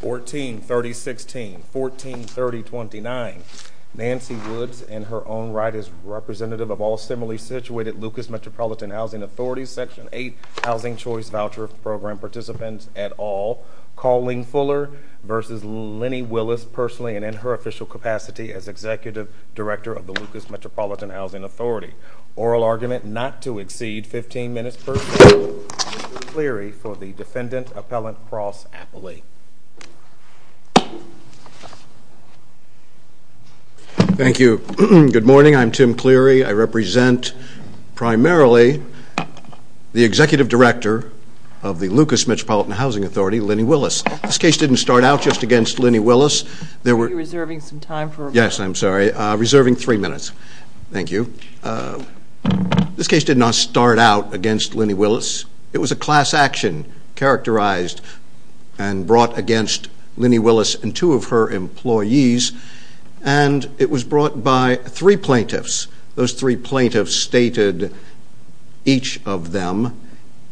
14 30 16 14 30 29 Nancy Woods in her own right as representative of all similarly situated Lucas Metropolitan Housing Authority section 8 housing choice voucher program participants at all calling fuller versus Lenny Willis personally and in her official capacity as executive director of the Lucas Metropolitan Housing Authority oral argument not to exceed 15 minutes for Cleary for the defendant appellant cross-appley thank you good morning I'm Tim Cleary I represent primarily the executive director of the Lucas Metropolitan Housing Authority Lenny Willis this case didn't start out just against Lenny Willis there were serving some time for yes I'm sorry reserving three minutes thank you this case did not start out against Lenny Willis it was a class action characterized and brought against Lenny Willis and two of her employees and it was brought by three plaintiffs those three plaintiffs stated each of them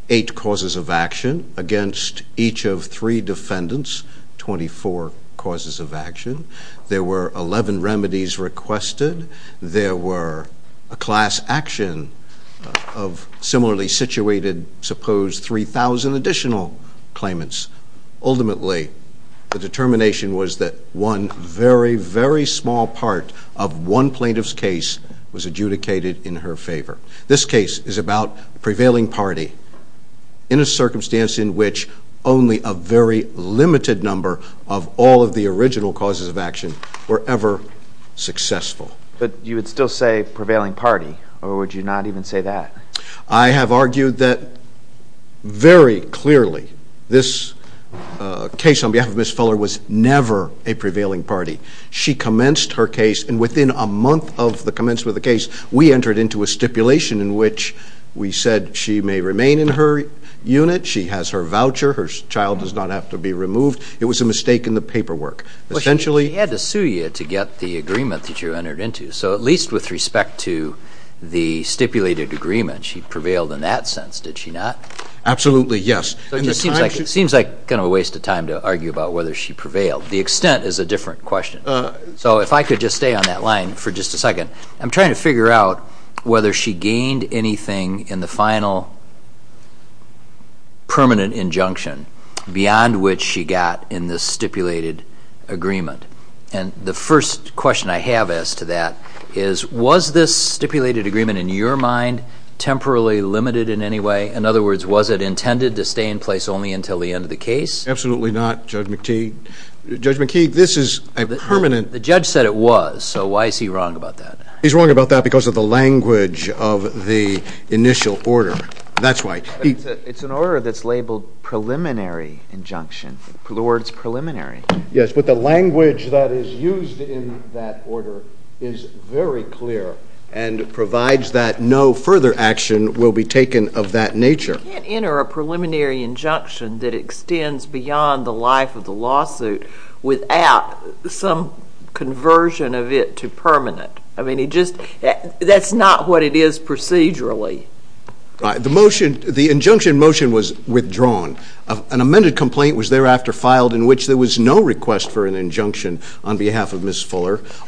eight causes of action against each of three defendants 24 causes of action there were 11 remedies requested there were a class action of similarly situated suppose 3,000 additional claimants ultimately the determination was that one very very small part of one plaintiff's case was adjudicated in her favor this case is about prevailing party in a circumstance in which only a very limited number of all of the say prevailing party or would you not even say that I have argued that very clearly this case on behalf of Miss Fuller was never a prevailing party she commenced her case and within a month of the commencement of the case we entered into a stipulation in which we said she may remain in her unit she has her voucher her child does not have to be removed it was a mistake in the paperwork essentially had to sue you to get the agreement that you entered into so at least with respect to the stipulated agreement she prevailed in that sense did she not absolutely yes it just seems like it seems like kind of a waste of time to argue about whether she prevailed the extent is a different question so if I could just stay on that line for just a second I'm trying to figure out whether she gained anything in the final permanent injunction beyond which she got in this stipulated agreement and the first question I have as to that is was this stipulated agreement in your mind temporarily limited in any way in other words was it intended to stay in place only until the end of the case absolutely not judge McTeague judge McKeague this is a permanent the judge said it was so why is he wrong about that he's wrong about that because of the language of the initial order that's why it's an order that's labeled preliminary injunction for the words preliminary yes but the order is very clear and provides that no further action will be taken of that nature enter a preliminary injunction that extends beyond the life of the lawsuit without some conversion of it to permanent I mean he just that's not what it is procedurally the motion the injunction motion was withdrawn an amended complaint was thereafter filed in which there was no request for an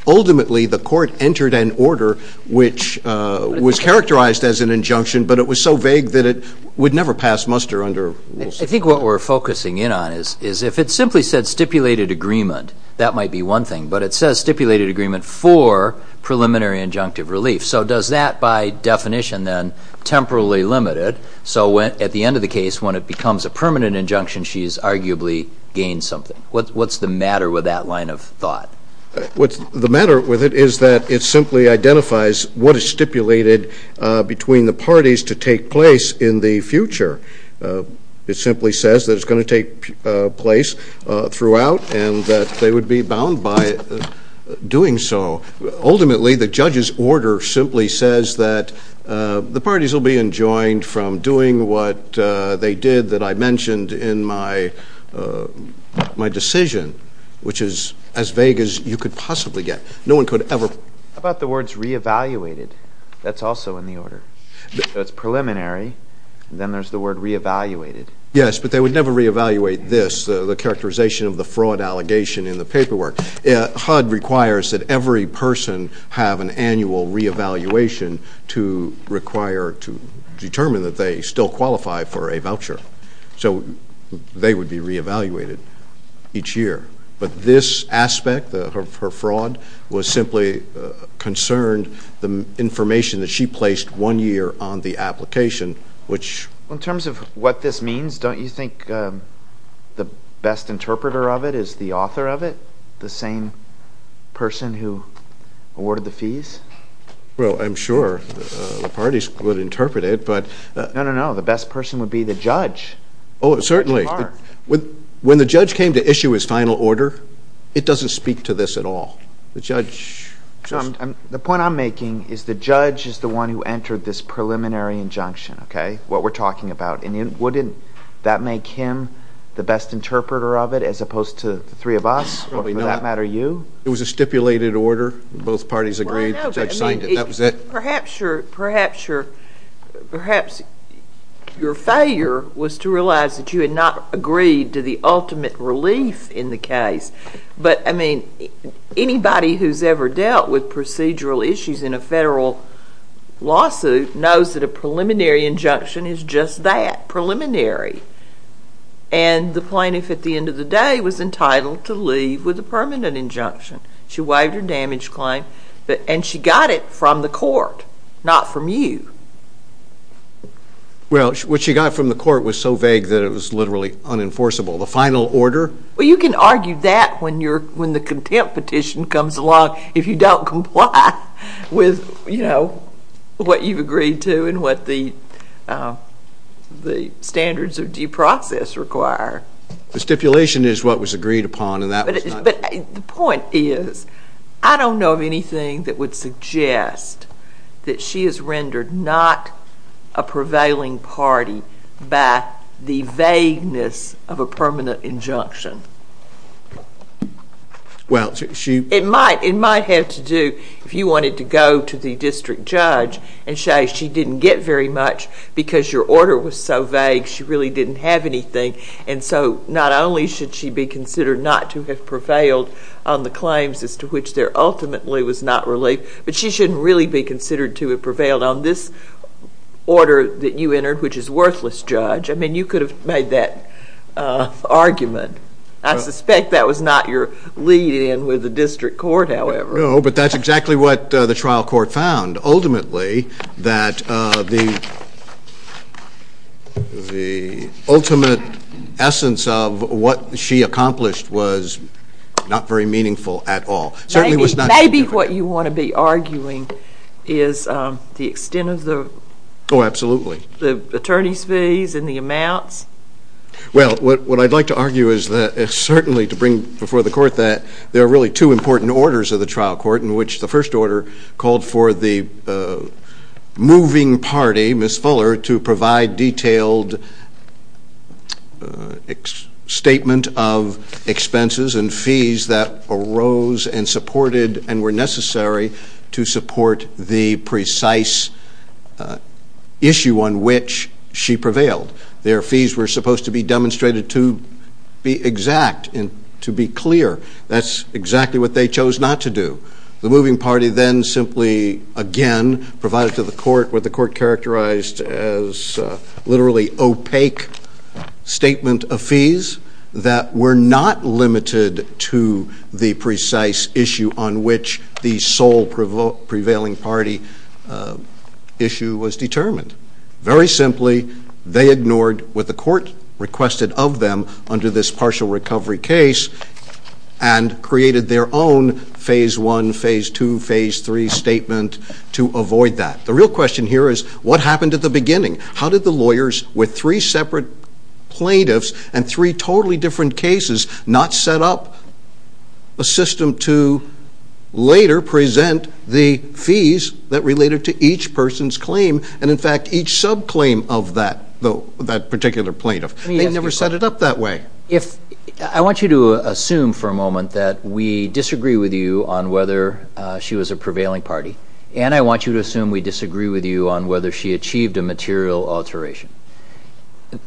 ultimately the court entered an order which was characterized as an injunction but it was so vague that it would never pass muster under I think what we're focusing in on is is if it simply said stipulated agreement that might be one thing but it says stipulated agreement for preliminary injunctive relief so does that by definition then temporarily limited so when at the end of the case when it becomes a permanent injunction she's arguably gained something what's the matter with that line of thought what's the matter with it is that it simply identifies what is stipulated between the parties to take place in the future it simply says that it's going to take place throughout and that they would be bound by doing so ultimately the judge's order simply says that the parties will be enjoined from doing what they did that I mentioned in my my decision which is as vague as you could possibly get no one could ever about the words re-evaluated that's also in the order that's preliminary then there's the word re-evaluated yes but they would never re-evaluate this the characterization of the fraud allegation in the paperwork yeah HUD requires that every person have an annual re-evaluation to require to determine that they still qualify for a voucher so they would be re-evaluated each year but this aspect of her fraud was simply concerned the information that she placed one year on the application which in terms of what this means don't you think the best interpreter of it is the author of it the same person who awarded the fees well I'm sure the parties could interpret it but no no the best person would be the judge oh certainly with when the judge came to issue his final order it doesn't speak to this at all the judge the point I'm making is the judge is the one who entered this preliminary injunction okay what we're talking about and it wouldn't that make him the best interpreter of it as opposed to three of us we know that matter you it was a stipulated order both parties agreed that was it perhaps your perhaps your perhaps your failure was to realize that you had not agreed to the ultimate relief in the case but I mean anybody who's ever dealt with procedural issues in a federal lawsuit knows that a preliminary injunction is just that preliminary and the plaintiff at the end of the day was entitled to leave with a permanent injunction she waived her damage claim but and she got it from the court not from you well what she got from the court was so vague that it was literally unenforceable the final order well you can argue that when you're when the contempt petition comes along if you don't comply with you know what you've agreed to and what the the standards of process require the stipulation is what was agreed upon and that is but the point is I don't know of anything that would suggest that she is rendered not a prevailing party by the vagueness of a permanent injunction well she it might it might have to do if you wanted to go to the district judge and say she didn't get very much because your order was so vague she really didn't have anything and so not only should she be considered not to have prevailed on the claims as to which there ultimately was not relief but she shouldn't really be considered to have prevailed on this order that you entered which is worthless judge I mean you could have made that argument I suspect that was not your lead in with the district court however no but that's exactly what the trial court found ultimately that the the ultimate essence of what she accomplished was not very meaningful at all certainly was not maybe what you want to be arguing is the extent of the oh absolutely the attorneys fees and the amounts well what what I'd like to argue is that it's certainly to bring before the court that there are really two important orders of the trial court in which the first order called for the moving party miss fuller to provide detailed statement of expenses and fees that arose and supported and were necessary to support the precise issue on which she prevailed their fees were supposed to be demonstrated to be exact and to be clear that's exactly what they chose not to do the moving party then simply again provided to the court with the court characterized as literally opaque statement of fees that were not limited to the precise issue on which the sole prevailing party issue was determined very simply they ignored what the court requested of them under this partial recovery case and created their own phase 1 phase 2 phase 3 statement to avoid that the real question here is what happened at the beginning how did the lawyers with three separate plaintiffs and three totally different cases not set up a system to later present the fees that related to each person's claim and in fact each sub claim of that though that particular plaintiff never set it up that way if I want you to assume for a moment that we disagree with you on whether she was a prevailing party and I want you to assume we disagree with you on whether she achieved a material alteration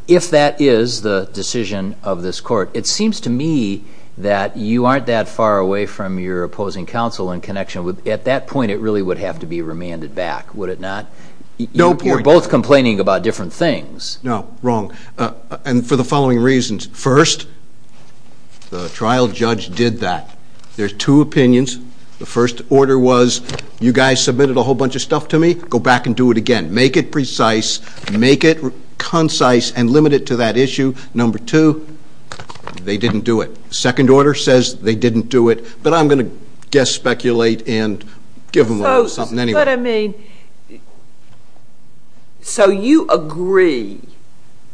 if that is the decision of this court it seems to me that you aren't that far away from your opposing counsel in connection with at that point it really would have to be remanded back would it not no point both complaining about different things no wrong and for the following reasons first the trial judge did that there's two opinions the first order was you guys submitted a whole bunch of stuff to me go back and do it again make it precise make it concise and limit it to that issue number two they didn't do it second order says they didn't do it but I'm gonna guess speculate and give them something anyway I mean so you agree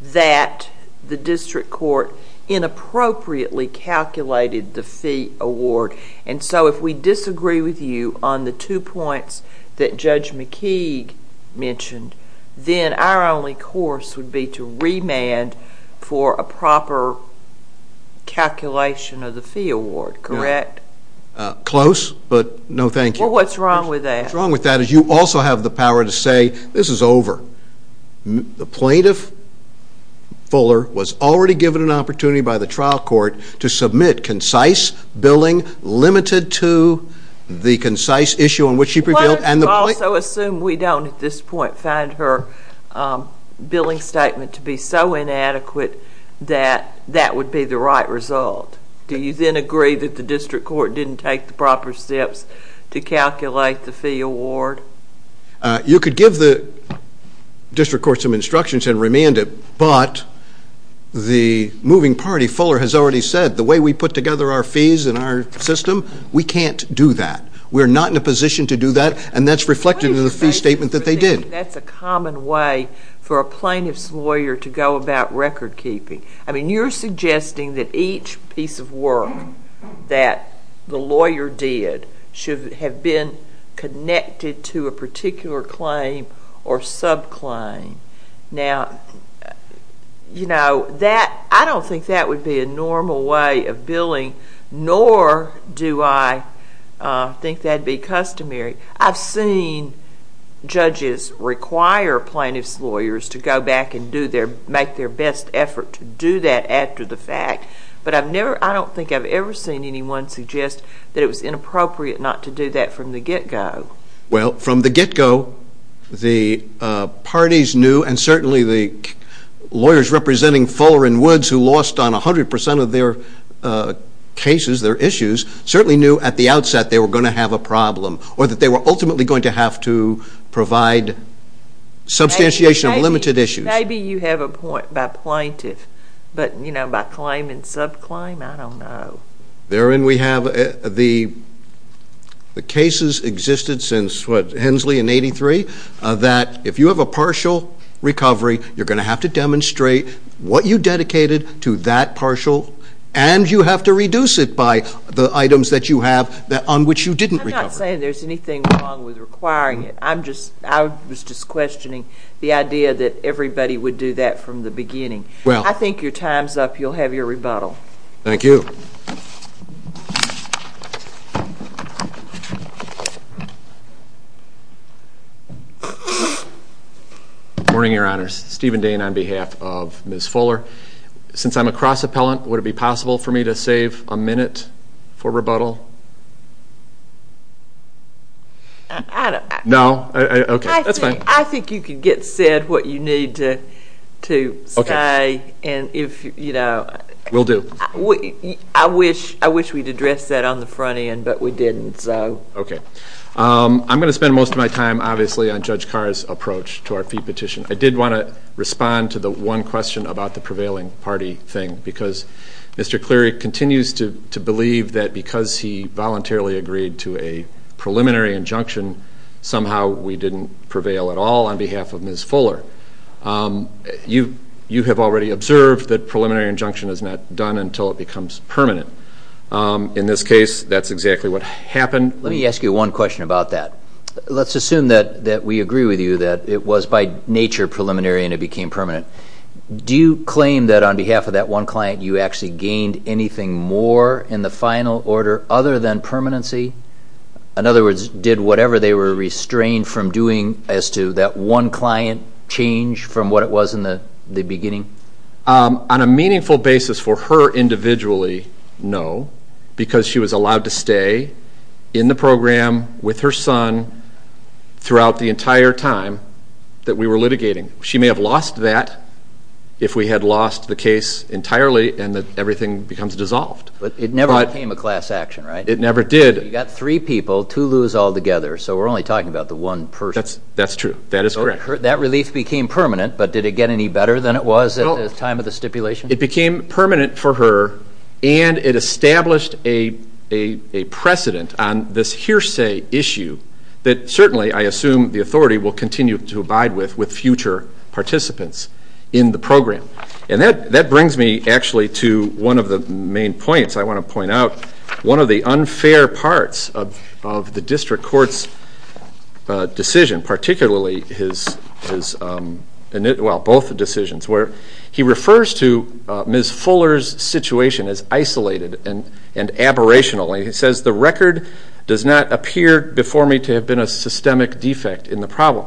that the district court inappropriately calculated the fee award and so if we disagree with you on the two points that judge McKeague mentioned then our only course would be to remand for a proper calculation of the fee award correct close but no thank you what's wrong with that wrong with that as you also have the power to say this is over the plaintiff Fuller was already given an opportunity by the trial court to submit concise billing limited to the concise issue in which you prevail and the point I assume we don't at this point find her billing statement to be so inadequate that that would be the right result do you then agree that the district court didn't take the proper steps to calculate the fee award you could give the district court some instructions and remanded but the moving party Fuller has already said the way we put together our fees in our system we can't do that we're not in a position to do that and that's reflected in the fee statement that they did that's a common way for a plaintiff's lawyer to go about record-keeping I mean you're suggesting that each piece of work that the lawyer did should have been connected to a particular claim or sub claim now you know that I don't think that would be a normal way of billing nor do I think that'd be customary I've seen judges require plaintiff's lawyers to go back and do their best effort to do that after the fact but I've never I don't think I've ever seen anyone suggest that it was inappropriate not to do that from the get-go well from the get-go the parties knew and certainly the lawyers representing Fuller and Woods who lost on a hundred percent of their cases their issues certainly knew at the outset they were going to have a problem or that you have a point by plaintiff but you know by claim and sub claim I don't know therein we have the the cases existed since what Hensley in 83 that if you have a partial recovery you're going to have to demonstrate what you dedicated to that partial and you have to reduce it by the items that you have that on which you didn't require it I'm just I was just questioning the idea that everybody would do that from the beginning well I think your time's up you'll have your rebuttal thank you morning your honors Stephen Dane on behalf of Ms. Fuller since I'm a cross appellant would it be possible for me to save a minute for rebuttal I don't know okay that's fine I think you could get said what you need to to okay and if you know we'll do what I wish I wish we'd address that on the front end but we didn't so okay I'm gonna spend most of my time obviously on Judge Carr's approach to our fee petition I did want to respond to the one question about the prevailing party thing because mr. Cleary continues to believe that because he voluntarily agreed to a preliminary injunction somehow we didn't prevail at all on behalf of Ms. Fuller you you have already observed that preliminary injunction is not done until it becomes permanent in this case that's exactly what happened let me ask you one question about that let's assume that that we agree with you that it was by nature preliminary and it became permanent do you claim that on behalf of that one client you actually gained anything more in the final order other than permanency in other words did whatever they were restrained from doing as to that one client change from what it was in the the beginning on a meaningful basis for her individually no because she was allowed to stay in the program with her son throughout the entire time that we were litigating she had lost the case entirely and that everything becomes dissolved but it never became a class action right it never did you got three people to lose all together so we're only talking about the one person that's that's true that is correct that relief became permanent but did it get any better than it was at the time of the stipulation it became permanent for her and it established a a precedent on this hearsay issue that certainly I assume the authority will and that that brings me actually to one of the main points I want to point out one of the unfair parts of the district courts decision particularly his is and it well both the decisions where he refers to Ms. Fuller's situation as isolated and and aberration only he says the record does not appear before me to have been a systemic defect in the problem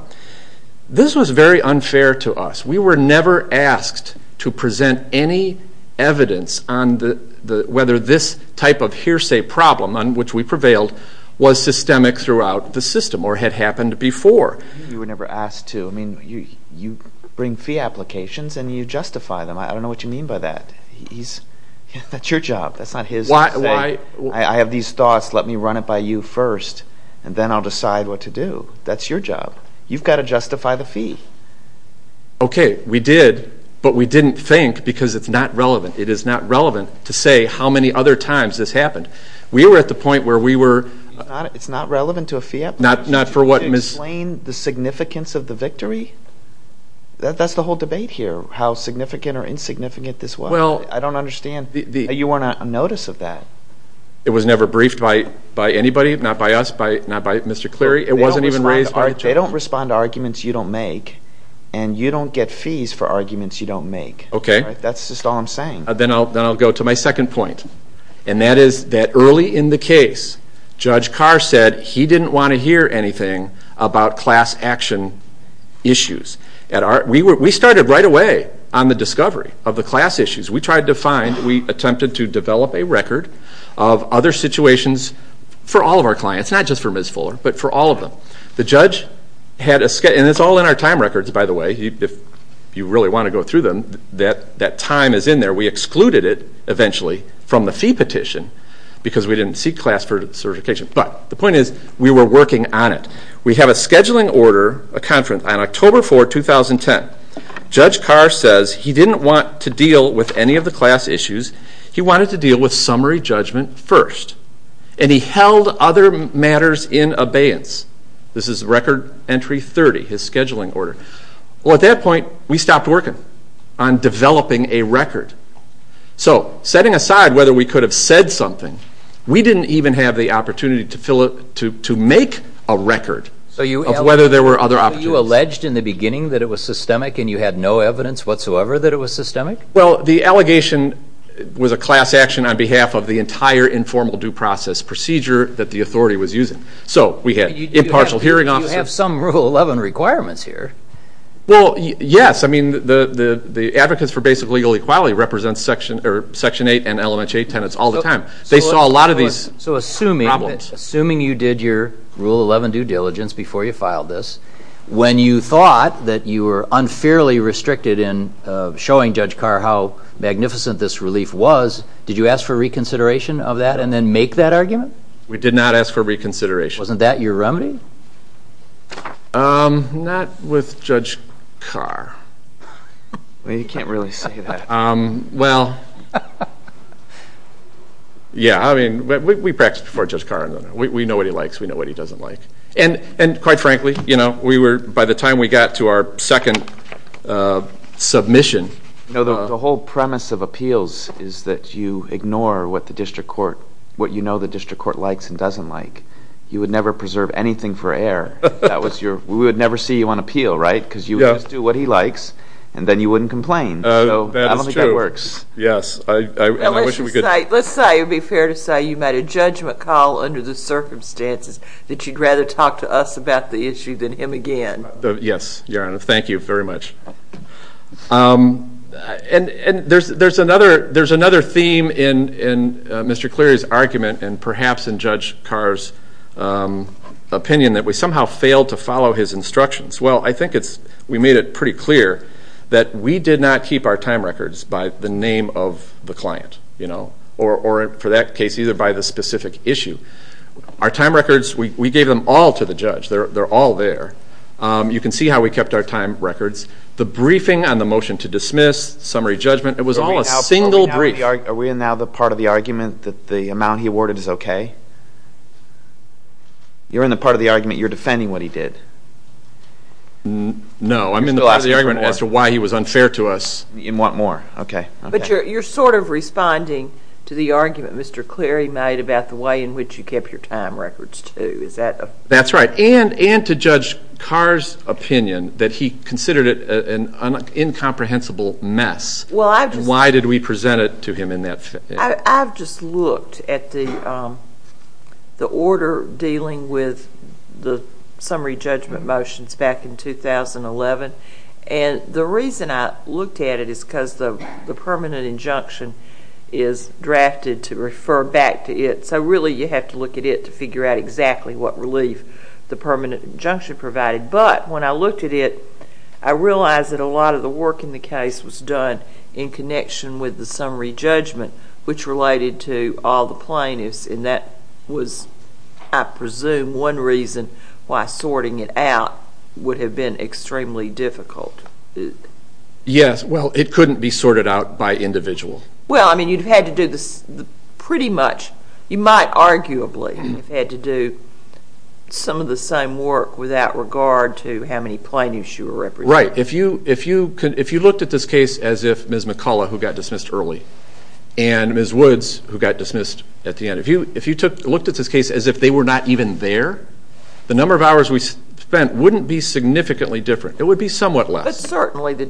this was very unfair to us we were never asked to present any evidence on the the whether this type of hearsay problem on which we prevailed was systemic throughout the system or had happened before you were never asked to I mean you you bring fee applications and you justify them I don't know what you mean by that he's that's your job that's not his why I have these thoughts let me run it by you first and then I'll justify the fee okay we did but we didn't think because it's not relevant it is not relevant to say how many other times this happened we were at the point where we were not it's not relevant to a fiat not not for what miss Lane the significance of the victory that's the whole debate here how significant or insignificant this well I don't understand the you weren't a notice of that it was never briefed by by anybody not by us by not by mr. Cleary it wasn't even raised by they don't respond to arguments you don't make and you don't get fees for arguments you don't make okay that's just all I'm saying then I'll go to my second point and that is that early in the case judge Carr said he didn't want to hear anything about class action issues at our we were we started right away on the discovery of the class issues we tried to find we attempted to develop a record of other situations for all of our clients not just for Miss Fuller but for all of them the judge had a sketch and it's all in our time records by the way if you really want to go through them that that time is in there we excluded it eventually from the fee petition because we didn't see class for certification but the point is we were working on it we have a scheduling order a conference on October 4 2010 judge Carr says he didn't want to deal with any of the class issues he wanted to deal with in abeyance this is record entry 30 his scheduling order well at that point we stopped working on developing a record so setting aside whether we could have said something we didn't even have the opportunity to fill it to make a record so you whether there were other you alleged in the beginning that it was systemic and you had no evidence whatsoever that it was systemic well the allegation was a class action on behalf of the entire informal due process procedure that the authority was using so we had impartial hearing officer have some rule 11 requirements here well yes I mean the the the advocates for basic legal equality represents section or section 8 and element 8 tenants all the time they saw a lot of these so assuming problems assuming you did your rule 11 due diligence before you filed this when you thought that you were unfairly restricted in showing judge Carr how magnificent this relief was did you ask for reconsideration of that and then make that argument we did not ask for reconsideration wasn't that your remedy not with judge Carr well yeah I mean we practice before just car and we know what he likes we know what he doesn't like and and quite frankly you know we were by the time we got to our second submission no the whole premise of appeals is that you ignore what the district court what you know the district court likes and doesn't like you would never preserve anything for air that was your we would never see you on appeal right because you just do what he likes and then you wouldn't complain oh that works yes let's say it'd be fair to say you met a judgment call under the circumstances that you'd rather talk to us about the issue than him again yes your honor thank you very much and and there's there's another there's another theme in in mr. Cleary's argument and perhaps in judge Carr's opinion that we somehow failed to follow his instructions well I think it's we made it pretty clear that we did not keep our time records by the name of the client you know or for that case either by the specific issue our time records we gave them all to the judge they're all there you can see how we kept our time records the briefing on the motion to dismiss summary judgment it was all a single brief are we in now the part of the argument that the amount he awarded is okay you're in the part of the argument you're defending what he did no I'm in the argument as to why he was unfair to us you want more okay but you're sort of responding to the argument mr. Cleary made about the way in which you kept your time records to is that that's right and and to judge Carr's opinion that he considered it an incomprehensible mess well I why did we present it to him in that I've just looked at the the order dealing with the summary judgment motions back in 2011 and the reason I looked at it is because the permanent injunction is drafted to refer back to it so really you have to get it to figure out exactly what relief the permanent injunction provided but when I looked at it I realized that a lot of the work in the case was done in connection with the summary judgment which related to all the plaintiffs in that was I presume one reason why sorting it out would have been extremely difficult yes well it couldn't be sorted out by individual well I mean you've had to do this pretty much you might arguably had to do some of the same work without regard to how many plaintiffs you were right if you if you could if you looked at this case as if ms. McCullough who got dismissed early and ms. Woods who got dismissed at the end of you if you took looked at this case as if they were not even there the number of hours we spent wouldn't be significantly different it would be somewhat less certainly the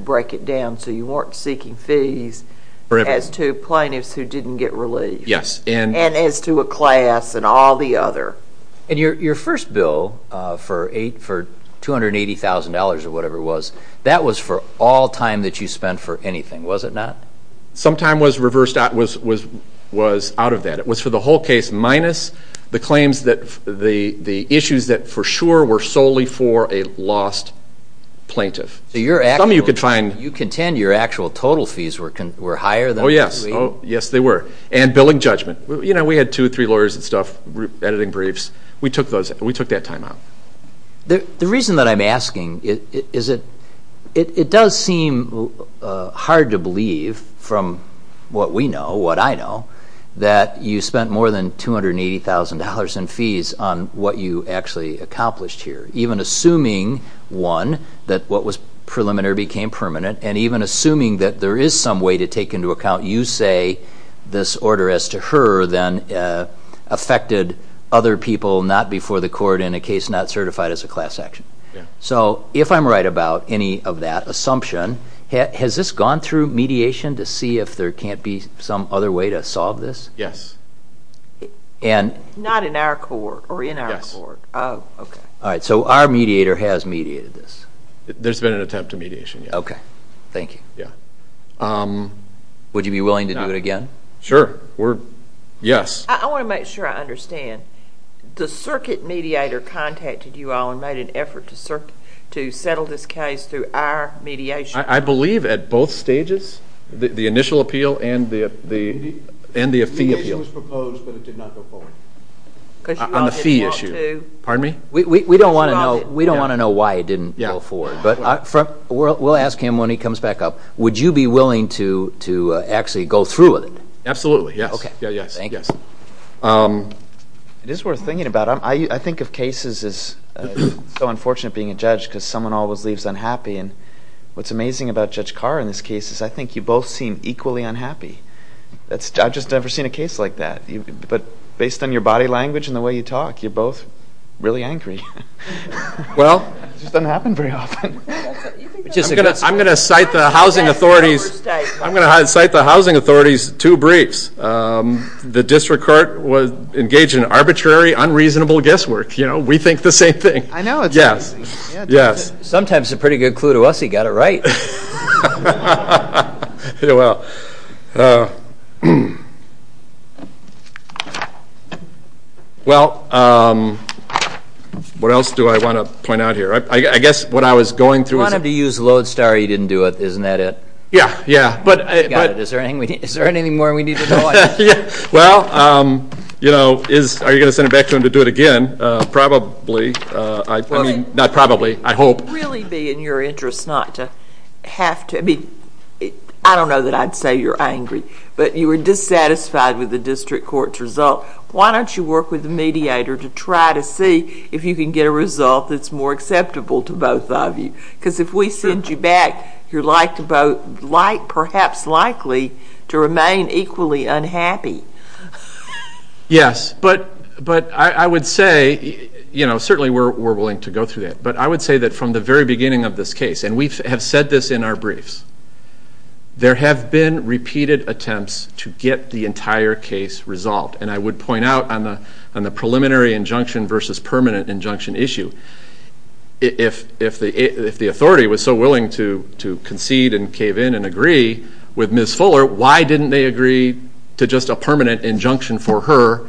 break it down so you weren't seeking fees as to plaintiffs who didn't get relief yes and and as to a class and all the other and your first bill for eight for two hundred eighty thousand dollars or whatever it was that was for all time that you spent for anything was it not sometime was reversed out was was was out of that it was for the whole case minus the claims that the the issues that for sure were solely for a lost plaintiff you're actually you could find you contend your actual total fees were can were higher though yes oh yes they were and billing judgment you know we had two three lawyers and stuff editing briefs we took those we took that time out the reason that I'm asking is it it does seem hard to believe from what we know what I know that you spent more than two hundred and eighty thousand dollars in fees on what you actually accomplished here even assuming one that what was preliminary became permanent and even assuming that there is some way to take into account you say this order as to her then affected other people not before the court in a case not certified as a class action so if I'm right about any of that assumption has this gone through mediation to see if there can't be some other way to yes and not in our court or in our court oh okay all right so our mediator has mediated this there's been an attempt to mediation okay thank you yeah um would you be willing to do it again sure we're yes I want to make sure I understand the circuit mediator contacted you all and made an effort to search to settle this case through our mediation I believe at both stages the initial appeal and the and the appeal on the fee issue pardon me we don't want to know we don't want to know why it didn't go forward but from we'll ask him when he comes back up would you be willing to to actually go through with it absolutely yeah okay yes yes it is worth thinking about I think of cases is so unfortunate being a judge because someone always leaves unhappy and what's amazing about judge unhappy that's I've just never seen a case like that but based on your body language and the way you talk you're both really angry well I'm gonna cite the housing authorities I'm gonna hide cite the housing authorities two briefs the district court was engaged in arbitrary unreasonable guesswork you know we think the same thing I know yes yes sometimes a pretty good clue to us he got it right well what else do I want to point out here I guess what I was going through him to use load star he didn't do it isn't that it yeah yeah but is there anything is there anything more we need yeah well you know is are you gonna send it back to him to do it again probably I mean not probably I really be in your interest not to have to be I don't know that I'd say you're angry but you were dissatisfied with the district courts result why don't you work with the mediator to try to see if you can get a result that's more acceptable to both of you because if we send you back you're like to vote like perhaps likely to remain equally unhappy yes but but I would say you know certainly we're willing to go through that but I would say that from the very beginning of this case and we have said this in our briefs there have been repeated attempts to get the entire case resolved and I would point out on the on the preliminary injunction versus permanent injunction issue if if the if the authority was so willing to to concede and cave in and agree with Miss Fuller why didn't they agree to just a permanent injunction for her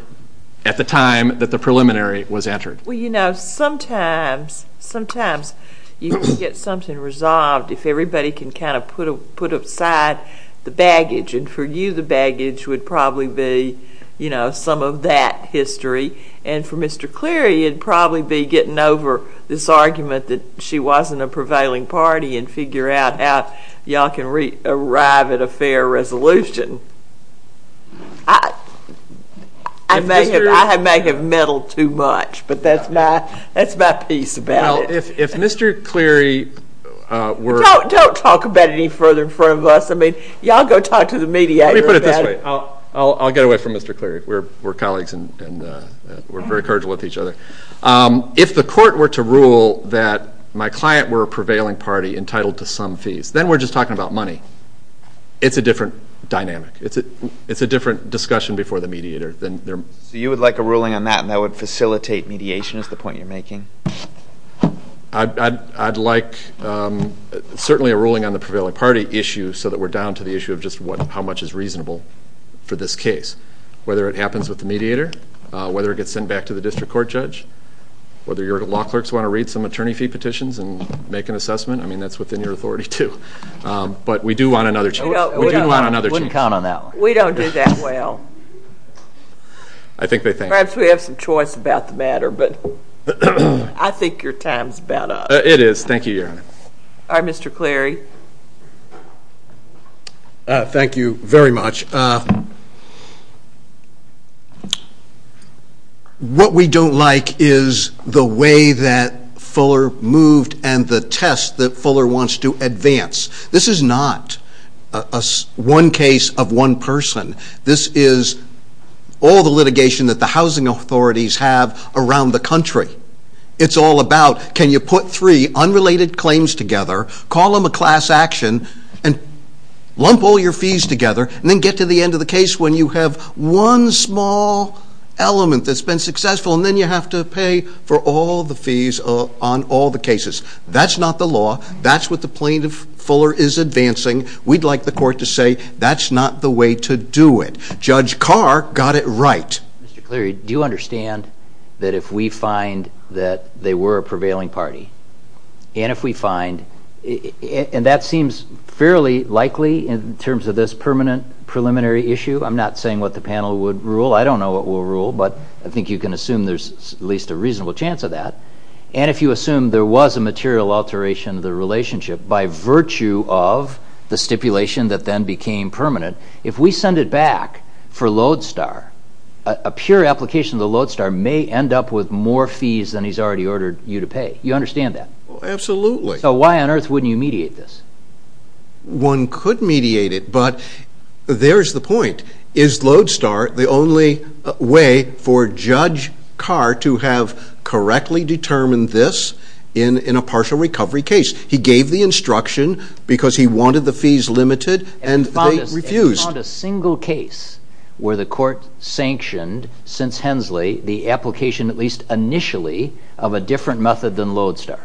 at the time that the preliminary was entered well you know sometimes sometimes you can get something resolved if everybody can kind of put a put aside the baggage and for you the baggage would probably be you know some of that history and for mr. Cleary it'd probably be getting over this argument that she wasn't a prevailing party and figure out how y'all can read arrive at a fair resolution I may have I may have meddled too much but that's my that's my piece about if mr. Cleary we're don't talk about any further in front of us I mean y'all go talk to the media I'll get away from mr. Cleary we're we're colleagues and we're very courageous with each other if the court were to rule that my client were a prevailing party entitled to some fees then we're just talking about money it's a different dynamic it's a it's a different discussion before the mediator then there so you would like a ruling on that and that would facilitate mediation is the point you're making I'd like certainly a ruling on the prevailing party issue so that we're down to the issue of just what how much is reasonable for this case whether it happens with the mediator whether it gets sent back to the district court judge whether your law clerks want to read some attorney fee petitions and make an assessment I mean that's within your authority too but we do want another we don't count on that we don't do that well I think they think perhaps we have some choice about the matter but I think your time's better it is thank you your honor I'm mr. Cleary thank you very much what we don't like is the way that Fuller moved and the test that Fuller wants to advance this is not a one case of one person this is all the litigation that the housing authorities have around the country it's all about can you put three unrelated claims together call them a class action and lump all your fees together and then get to the end of the case when you have one small element that's been successful and you have to pay for all the fees on all the cases that's not the law that's what the plaintiff Fuller is advancing we'd like the court to say that's not the way to do it judge Carr got it right do you understand that if we find that they were a prevailing party and if we find and that seems fairly likely in terms of this permanent preliminary issue I'm not saying what the panel would rule I don't know what will rule but I think you can assume there's at least a reasonable chance of that and if you assume there was a material alteration of the relationship by virtue of the stipulation that then became permanent if we send it back for Lodestar a pure application of the Lodestar may end up with more fees than he's already ordered you to pay you understand that absolutely so why on earth wouldn't you mediate this one could mediate it but there's the point is Lodestar the only way for judge Carr to have correctly determined this in in a partial recovery case he gave the instruction because he wanted the fees limited and they refused a single case where the court sanctioned since Hensley the application at least initially of a different method than Lodestar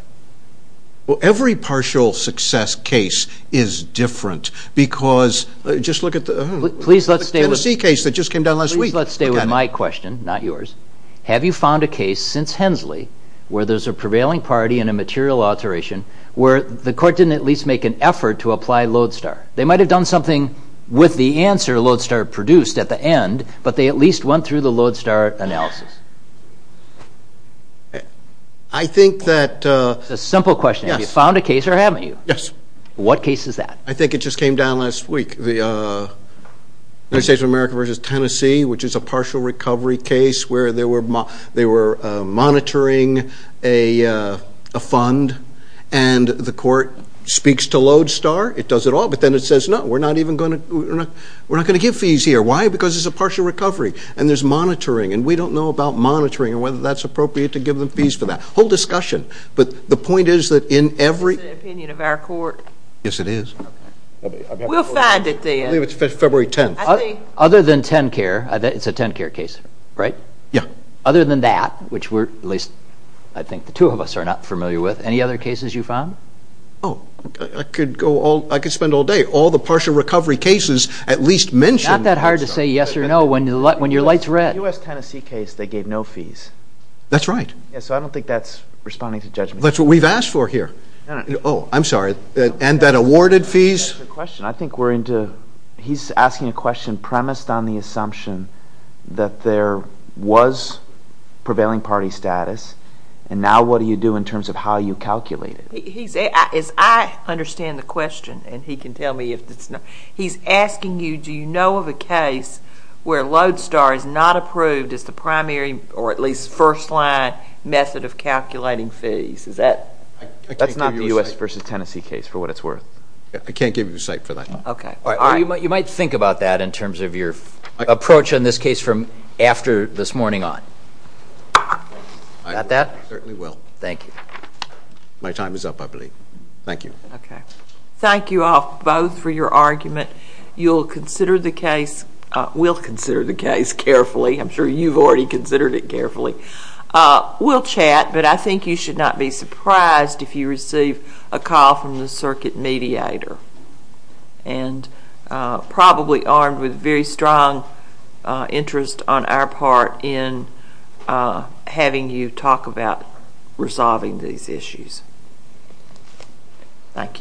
well every partial success case is different because just look at the Tennessee case that just came down last week let's stay with my question not yours have you found a case since Hensley where there's a prevailing party and a material alteration where the court didn't at least make an effort to apply Lodestar they might have done something with the answer Lodestar produced at the end but they at least went through the Lodestar analysis I think that a simple question if you found a case or haven't you yes what case is that I think it just came down last week the United States of America versus Tennessee which is a partial recovery case where there were they were monitoring a fund and the court speaks to Lodestar it does it all but then it says no we're not even gonna we're not gonna give fees here why because it's a partial recovery and there's monitoring and we don't know about monitoring and whether that's appropriate to give them fees for that whole discussion but the it is February 10th other than 10 care it's a 10 care case right yeah other than that which were at least I think the two of us are not familiar with any other cases you found oh I could go all I could spend all day all the partial recovery cases at least mention that hard to say yes or no when you let when your lights red US Tennessee case they gave no fees that's right yeah so I don't think that's responding to judgment that's what we've asked for here oh I'm sorry and that awarded fees question I think we're into he's asking a question premised on the assumption that there was prevailing party status and now what do you do in terms of how you calculate it is I understand the question and he can tell me if it's not he's asking you do you know of a case where Lodestar is not approved as the primary or at least first line method of that's not the u.s. versus Tennessee case for what it's worth I can't give you a site for that okay all right you might you might think about that in terms of your approach on this case from after this morning on got that thank you my time is up I believe thank you okay thank you all both for your argument you'll consider the case we'll consider the case carefully I'm sure you've already considered it carefully we'll chat but I think you should not be surprised if you receive a call from the circuit mediator and probably armed with very strong interest on our part in having you talk about resolving these issues thank you